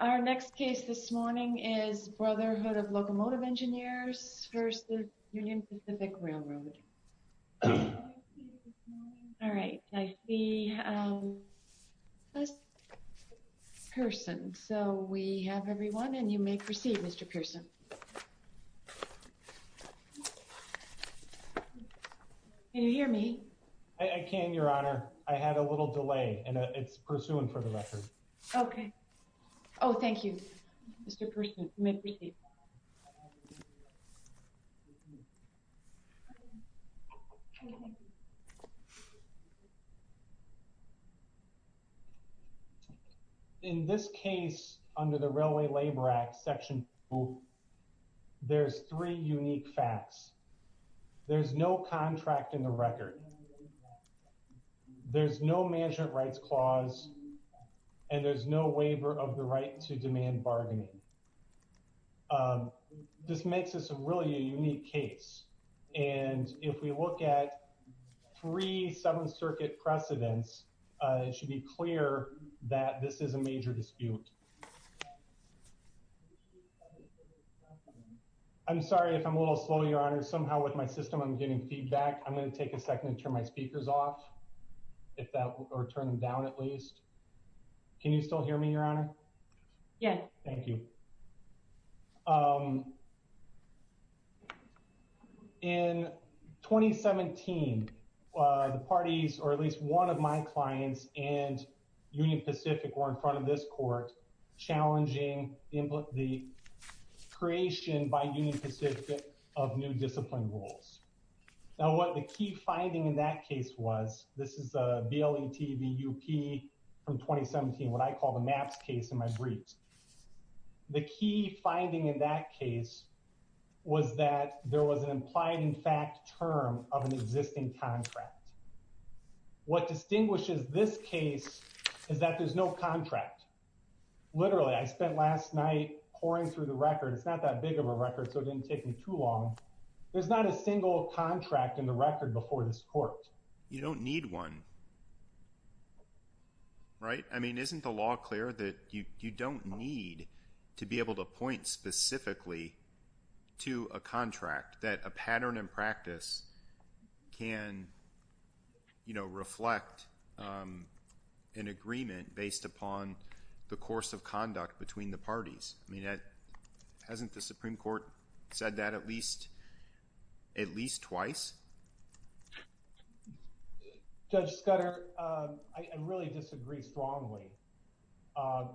Our next case this morning is Brotherhood of Locomotive Engineers v. Union Pacific Railroad. All right, I see, um, Pearson. So we have everyone and you may proceed, Mr. Pearson. Can you hear me? I can, Your Honor. I had a little delay and it's pursuing for the record. Okay. Oh, thank you, Mr. Pearson. You may proceed. In this case under the Railway Labor Act Section 2, there's three unique facts. There's no contract in the record. There's no management rights clause. And there's no waiver of the right to demand bargaining. This makes this a really unique case. And if we look at three Seventh Circuit precedents, it should be clear that this is a major dispute. I'm sorry if I'm a little slow, Your Honor. Somehow with my system, I'm getting feedback. I'm going to take a second to turn my speakers off, if that, or turn them down at least. Can you still hear me, Your Honor? Yeah. Thank you. In 2017, the parties or at least one of my clients and Union Pacific were in front of this court challenging the creation by Union Pacific of new discipline rules. Now, what the key finding in that case was, this is a BLETVUP from 2017, what I call the maps case in my briefs. The key finding in that case was that there was an implied in fact term of an existing contract. What distinguishes this case is that there's no contract. Literally, I spent last night pouring through the record. It's not that big of a record, so it didn't take me too long. There's not a single contract in the record before this court. You don't need one, right? I mean, isn't the law clear that you don't need to be able to point specifically to a contract that a pattern and practice can reflect an agreement based upon the course of at least twice? Judge Scudder, I really disagree strongly.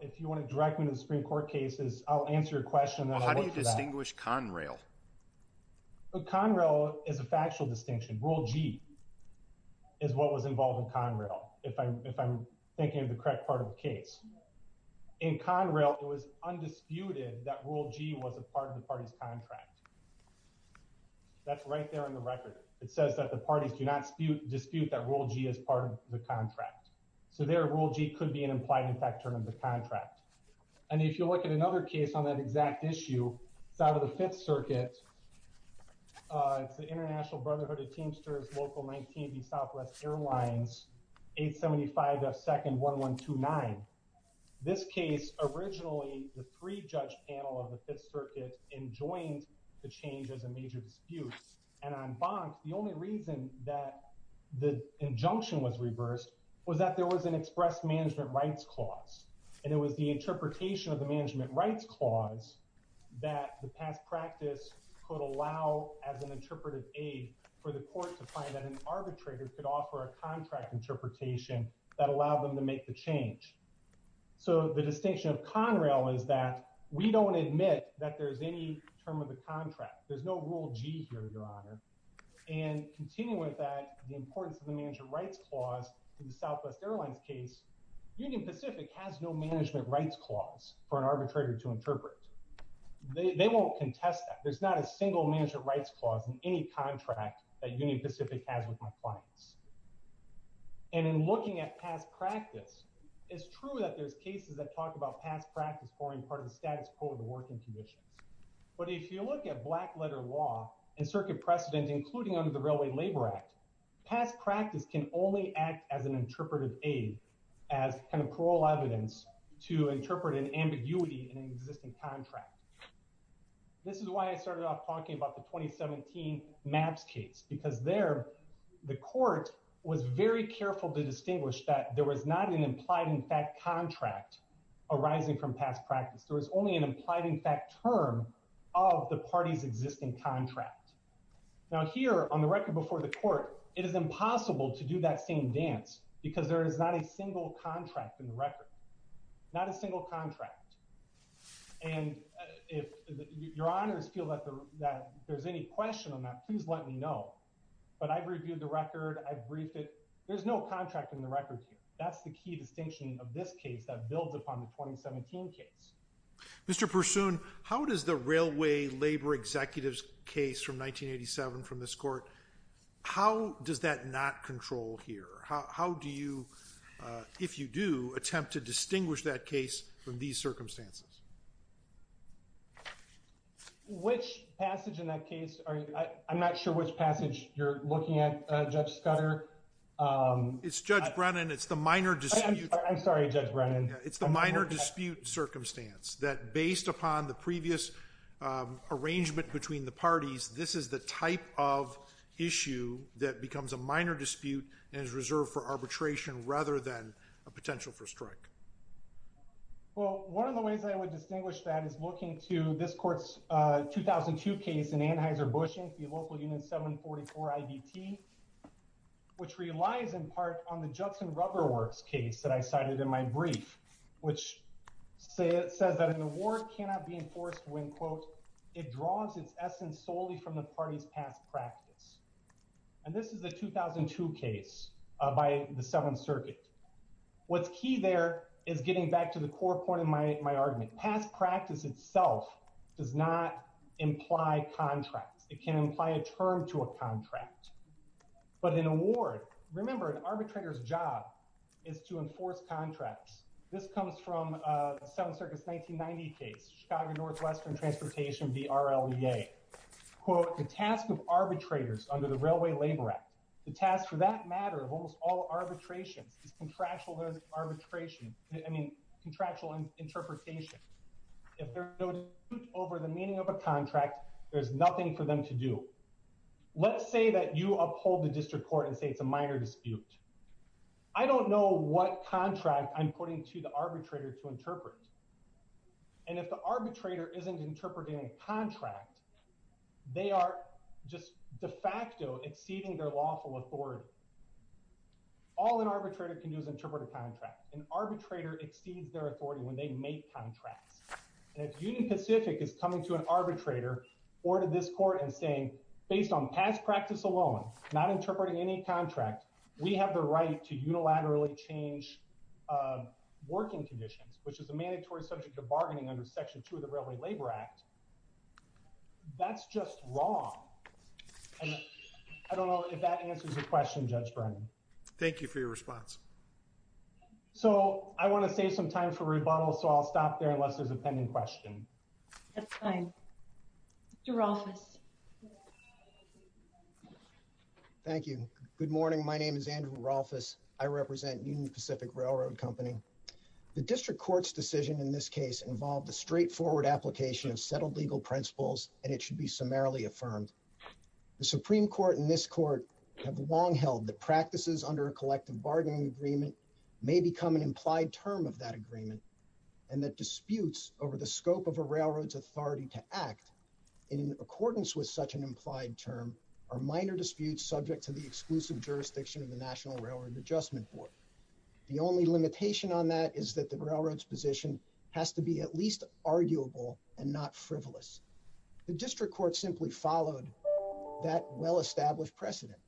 If you want to direct me to the Supreme Court cases, I'll answer your question. How do you distinguish Conrail? Conrail is a factual distinction. Rule G is what was involved in Conrail, if I'm thinking of the correct part of the case. In Conrail, it was undisputed that Rule G was a part of the party's contract. That's right there in the record. It says that the parties do not dispute that Rule G is part of the contract. So there, Rule G could be an implied in fact term of the contract. And if you look at another case on that exact issue, it's out of the Fifth Circuit. It's the International Brotherhood of Teamsters Local 19B Southwest Airlines 875F2-1129. This case, originally the three-judge panel of the Fifth Circuit enjoined the change as a major dispute. And on Bonk, the only reason that the injunction was reversed was that there was an express management rights clause. And it was the interpretation of the management rights clause that the past practice could allow as an interpretive aid for the court to find that an arbitrator could offer a contract interpretation that allowed them to make the change. So the distinction of Conrail is that we don't admit that there's any term of the contract. There's no Rule G here, Your Honor. And continuing with that, the importance of the management rights clause in the Southwest Airlines case, Union Pacific has no management rights clause for an arbitrator to interpret. They won't contest that. There's not a single management rights clause in any contract that Union Pacific has with my clients. And in looking at past practice, it's true that there's cases that talk about past practice pouring part of the status quo of the working conditions. But if you look at black letter law and circuit precedent, including under the Railway Labor Act, past practice can only act as an interpretive aid as kind of parole evidence to interpret an ambiguity in an existing contract. This is why I started off talking about the 2017 MAPS case, because there the court was very implied in fact contract arising from past practice. There was only an implied in fact term of the party's existing contract. Now here on the record before the court, it is impossible to do that same dance because there is not a single contract in the record, not a single contract. And if Your Honors feel that there's any question on that, please let me know. But I've reviewed the record. I've briefed it. There's no contract in the record here. That's key distinction of this case that builds upon the 2017 case. Mr. Pursoon, how does the Railway Labor Executives case from 1987 from this court, how does that not control here? How do you, if you do, attempt to distinguish that case from these circumstances? Which passage in that case? I'm not sure which passage you're looking at, Judge Scudder. It's Judge Brennan. It's the minor dispute. I'm sorry, Judge Brennan. It's the minor dispute circumstance that based upon the previous arrangement between the parties, this is the type of issue that becomes a minor dispute and is reserved for arbitration rather than a potential for strike. Well, one of the ways I would distinguish that is looking to this court's 2002 case in Anheuser-Busch, the local unit 744 IVT, which relies in part on the Judson Rubberworks case that I cited in my brief, which says that an award cannot be enforced when, quote, it draws its essence solely from the party's past practice. And this is the 2002 case by the Seventh Circuit. What's key there is getting back to the core point of my argument. Past practice itself does not imply contracts. It can imply a term to a contract. But an award, remember, an arbitrator's job is to enforce contracts. This comes from the Seventh Circuit's 1990 case, Chicago Northwestern Transportation v. RLEA. Quote, the task of arbitrators under the Railway Labor Act, the task for that matter of almost all if there's no dispute over the meaning of a contract, there's nothing for them to do. Let's say that you uphold the district court and say it's a minor dispute. I don't know what contract I'm putting to the arbitrator to interpret. And if the arbitrator isn't interpreting a contract, they are just de facto exceeding their lawful authority. All an arbitrator can do is interpret a contract. An arbitrator exceeds their authority when they make contracts. And if Union Pacific is coming to an arbitrator or to this court and saying, based on past practice alone, not interpreting any contract, we have the right to unilaterally change working conditions, which is a mandatory subject of bargaining under Section 2 of the Railway Labor Act, that's just wrong. And I don't know if that answers your question, Judge Bernie. Thank you for your response. So I want to save some time for rebuttals, so I'll stop there unless there's a pending question. That's fine. Mr. Rolfes. Thank you. Good morning. My name is Andrew Rolfes. I represent Union Pacific Railroad Company. The district court's decision in this case involved a straightforward application of settled legal principles, and it should be summarily affirmed. The Supreme Court and practices under a collective bargaining agreement may become an implied term of that agreement, and that disputes over the scope of a railroad's authority to act in accordance with such an implied term are minor disputes subject to the exclusive jurisdiction of the National Railroad Adjustment Board. The only limitation on that is that the railroad's position has to be at least arguable and not frivolous. The district court simply followed that well-established precedent.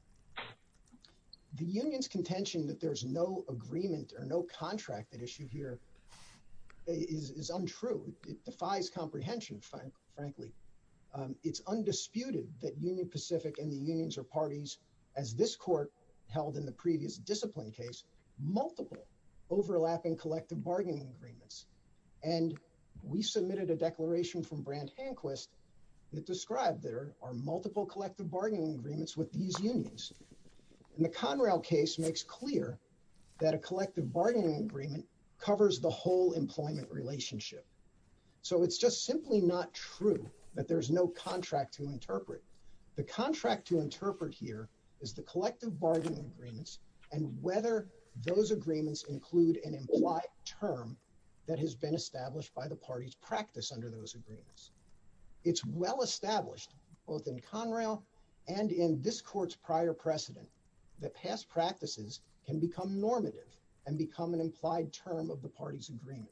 The union's contention that there's no agreement or no contract at issue here is untrue. It defies comprehension, frankly. It's undisputed that Union Pacific and the unions are parties, as this court held in the previous discipline case, multiple overlapping collective bargaining agreements. And we submitted a declaration from Brandt-Hanquist that described there are multiple collective bargaining agreements with these unions. And the Conrail case makes clear that a collective bargaining agreement covers the whole employment relationship. So it's just simply not true that there's no contract to interpret. The contract to interpret here is the collective bargaining agreements and whether those agreements include an implied term that has been established by the party's practice under those agreements. It's well-established both in Conrail and in this court's prior precedent that past practices can become normative and become an implied term of the party's agreement.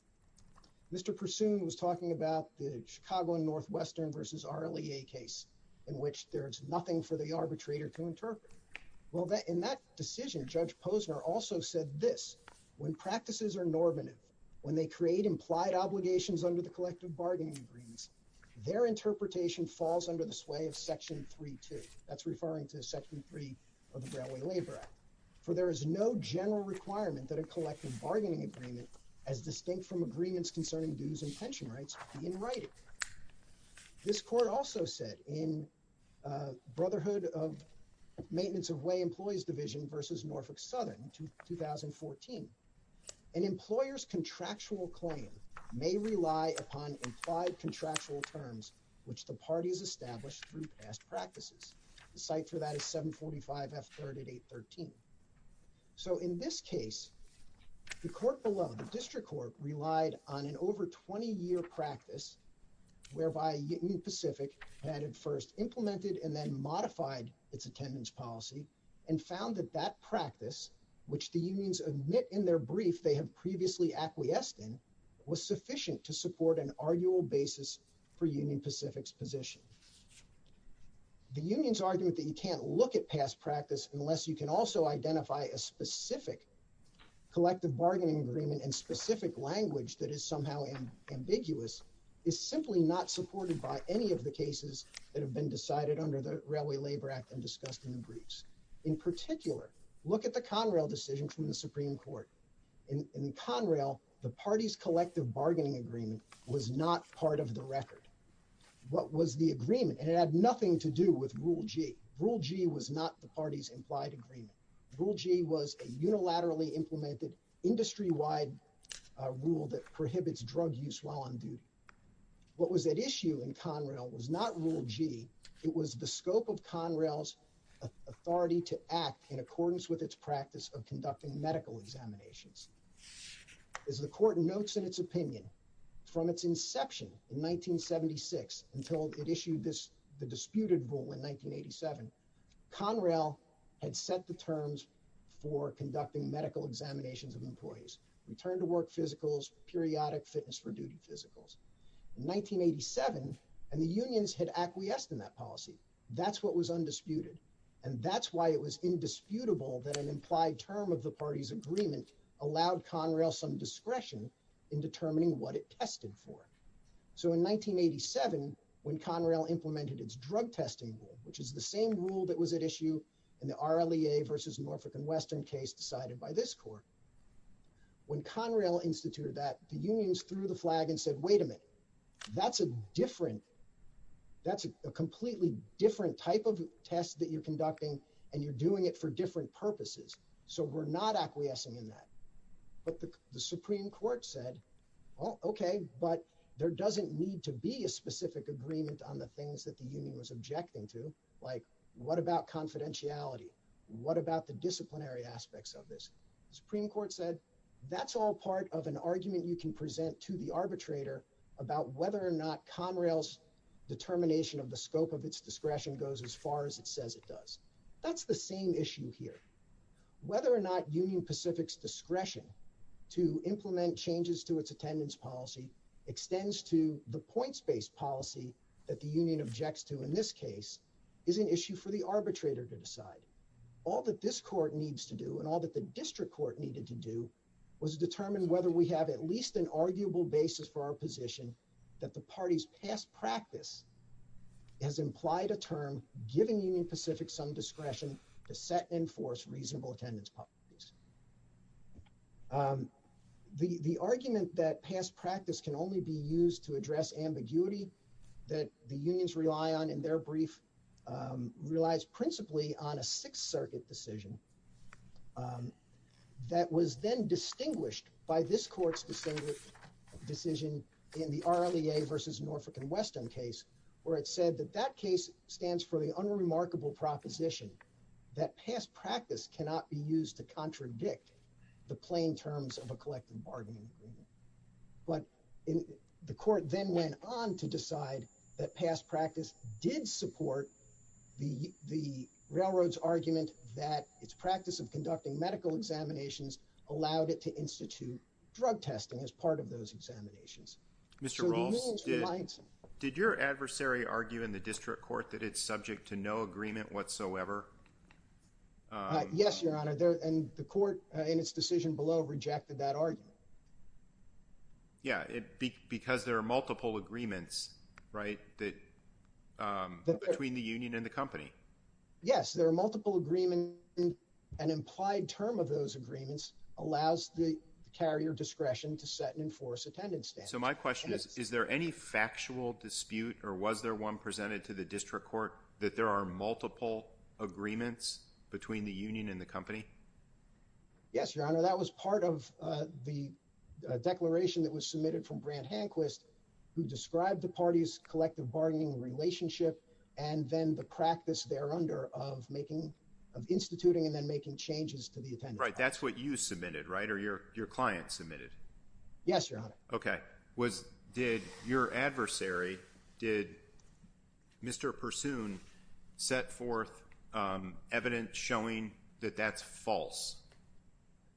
Mr. Pursoon was talking about the Chicago and Northwestern versus RLEA case in which there is nothing for the arbitrator to interpret. Well, in that decision, Judge Posner also said this, when practices are normative, when they create implied obligations under the collective bargaining agreements, their interpretation falls under the sway of Section 3-2. That's referring to Section 3 of the Broadway Labor Act. For there is no general requirement that a collective bargaining agreement as distinct from agreements concerning dues and pension rights be in writing. This court also said in Brotherhood of Maintenance of Way Employees Division versus Norfolk Southern 2014, an employer's contractual claim may rely upon implied contractual terms which the party's established through past practices. The site for that is 745 F. 3rd at 813. So in this case, the court below, the district court, relied on an over 20-year practice whereby Union Pacific had at first implemented and then modified its attendance policy and found that that practice, which the unions admit in their brief they have previously acquiesced in, was sufficient to support an arguable basis for Union Pacific's position. The union's argument that you can't look at past practice unless you can also identify a specific collective bargaining agreement and specific language that is somehow ambiguous is simply not supported by any of the cases that have been decided under the Railway Act and discussed in the briefs. In particular, look at the Conrail decision from the Supreme Court. In Conrail, the party's collective bargaining agreement was not part of the record. What was the agreement? And it had nothing to do with Rule G. Rule G was not the party's implied agreement. Rule G was a unilaterally implemented industry-wide rule that prohibits drug use while on duty. What was at issue in Conrail was not Rule G. It was the scope of Conrail's authority to act in accordance with its practice of conducting medical examinations. As the court notes in its opinion, from its inception in 1976 until it issued the disputed rule in 1987, Conrail had set the terms for conducting medical examinations of employees, return-to-work physicals, periodic fitness-for-duty physicals. In 1987, and the unions had acquiesced in that policy, that's what was undisputed. And that's why it was indisputable that an implied term of the party's agreement allowed Conrail some discretion in determining what it tested for. So in 1987, when Conrail implemented its drug testing rule, which is the same rule that was at issue in the RLEA versus Norfolk and Western case decided by this court, when Conrail instituted that, the unions threw the flag and said, wait a minute, that's a different, that's a completely different type of test that you're conducting, and you're doing it for different purposes. So we're not acquiescing in that. But the Supreme Court said, well, okay, but there doesn't need to be a specific agreement on the things that the union was objecting to. Like, what about confidentiality? What about the disciplinary aspects of this? The Supreme Court said, that's all part of an argument you can present to the arbitrator about whether or not Conrail's determination of the scope of its discretion goes as far as it says it does. That's the same issue here. Whether or not Union Pacific's discretion to implement changes to its attendance policy extends to the points-based policy that the union objects to in this case is an issue for the arbitrator to decide. All that this court needs to do and all that the district court needed to do was determine whether we have at least an arguable basis for our position that the party's past practice has implied a term, giving Union Pacific some discretion to set and enforce reasonable attendance policies. The argument that past practice can only be used to address ambiguity that the unions rely on in their brief relies principally on a Sixth Circuit decision that was then distinguished by this court's decision in the RLEA versus Norfolk and Weston case where it said that that case stands for the unremarkable proposition that past practice cannot be used to contradict the plain terms of a collective bargaining agreement. But the court then went on to decide that past practice did support the railroad's argument that its practice of conducting medical examinations allowed it to institute drug testing as part of those examinations. Mr. Rolfes, did your adversary argue in the district court that it's subject to no agreement whatsoever? Yes, your honor. And the court in its decision below rejected that argument. Yeah, it because there are multiple agreements, right, that between the union and the company. Yes, there are multiple agreement and implied term of those agreements allows the carrier discretion to set and enforce attendance. So my question is, is there any factual dispute or was there one presented to the district court that there are multiple agreements between the union and the company? Yes, your honor. That was part of the declaration that was submitted from Grant Hanquist who described the party's collective bargaining relationship and then the practice there under of making of instituting and then making changes to the attendance. Right, that's what you submitted, right? Or your client submitted? Yes, your honor. Okay, was did your adversary, did Mr. Pursoon set forth evidence showing that that's false?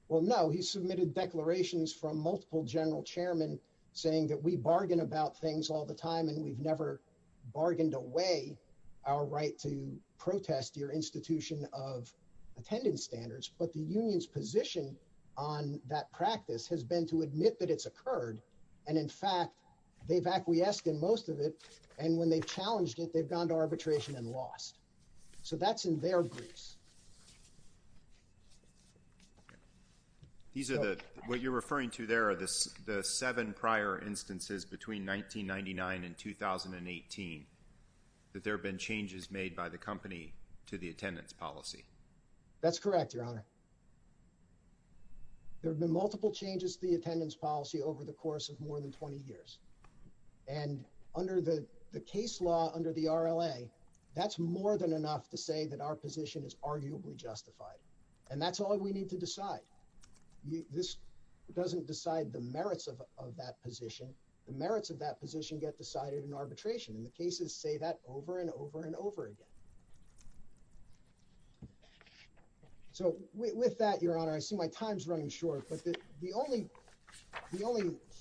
Well, no. He submitted declarations from multiple general chairmen saying that we bargain about things all the time and we've never bargained away our right to protest your institution of attendance standards. But the union's position on that practice has been to admit that it's occurred. And in fact, they've acquiesced in most of it and when they've challenged it, they've gone to arbitration and lost. So that's in their briefs. These are the, what you're referring to there are the seven prior instances between 1999 and 2018 that there have been changes made by the company to the attendance policy. That's correct, your honor. There have been multiple changes to the attendance policy over the course of more than 20 years. And under the case law, under the RLA, that's more than enough to say that our position is arguably justified. And that's all we need to decide. This doesn't decide the merits of that position. The merits of that position get decided in arbitration and the cases say that over and over and over again. So with that, your honor, I see my time's running short, but the only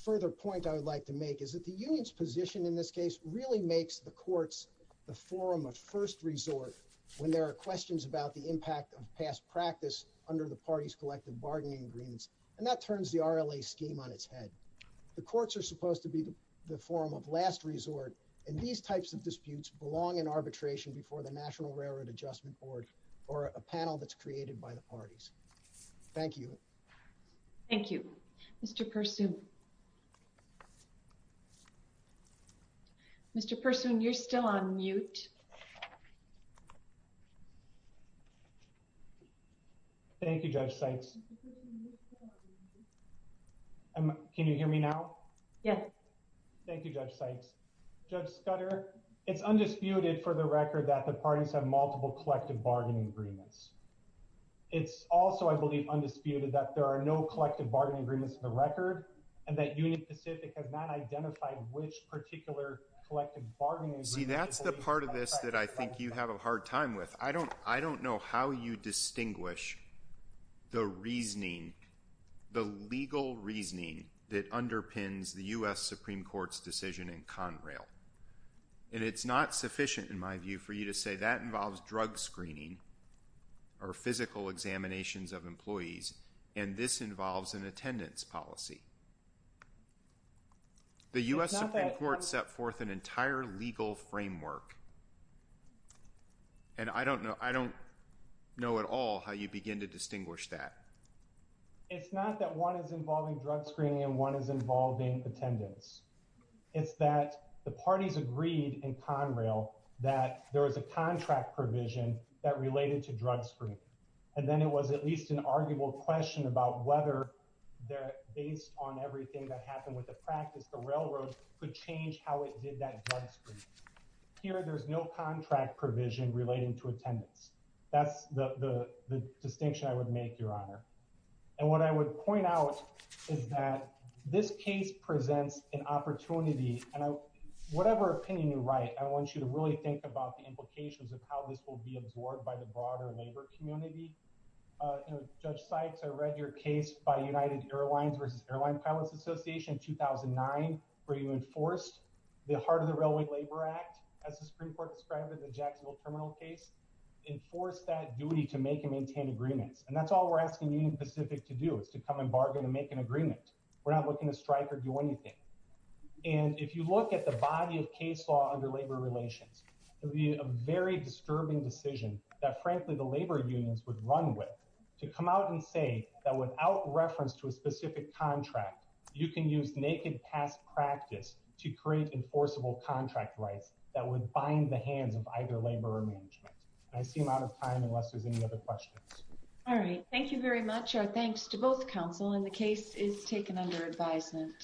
further point I would like to make is that the union's position in this case really makes the courts the forum of first resort when there are questions about the impact of past practice under the party's collective bargaining agreements. And that turns the RLA scheme on its head. The courts are supposed to be the forum of last resort and these types of disputes belong in arbitration before the National Railroad Adjustment Board or a panel that's created by the parties. Thank you. Thank you. Mr. Pursoon. Mr. Pursoon, you're still on mute. Thank you, Judge Sykes. Can you hear me now? Yes. Thank you, Judge Sykes. Judge Scudder, it's undisputed for the record that parties have multiple collective bargaining agreements. It's also, I believe, undisputed that there are no collective bargaining agreements in the record and that Union Pacific has not identified which particular collective bargaining agreement. See, that's the part of this that I think you have a hard time with. I don't know how you distinguish the reasoning, the legal reasoning that underpins the U.S. Supreme Court's decision in Conrail. And it's not sufficient, in my view, for you to say that involves drug screening or physical examinations of employees and this involves an attendance policy. The U.S. Supreme Court set forth an entire legal framework and I don't know at all how you begin to distinguish that. It's not that one is involving drug screening and one is involving attendance. It's that the parties agreed in Conrail that there was a contract provision that related to drug screening and then it was at least an arguable question about whether, based on everything that happened with the practice, the railroad could change how it did that drug screening. Here, there's no contract provision relating to attendance. That's the distinction I would make, Your Honor. And what I would point out is that this case presents an opportunity, and whatever opinion you write, I want you to really think about the implications of how this will be absorbed by the broader labor community. You know, Judge Sykes, I read your case by United Airlines versus Airline Pilots Association in 2009, where you enforced the heart of the Railway Labor Act, as the Supreme Court described in the Jacksonville Terminal case, enforced that duty to make and maintain agreements. And that's all we're asking Union Pacific to do, is to come and bargain and make an agreement. We're not looking to strike or do anything. And if you look at the body of case law under labor relations, it would be a very disturbing decision that, frankly, the labor unions would run with to come out and say that without reference to a specific contract, you can use naked past practice to create enforceable contract rights that would bind the hands of either labor or other unions. All right, thank you very much. Our thanks to both counsel, and the case is taken under advisement.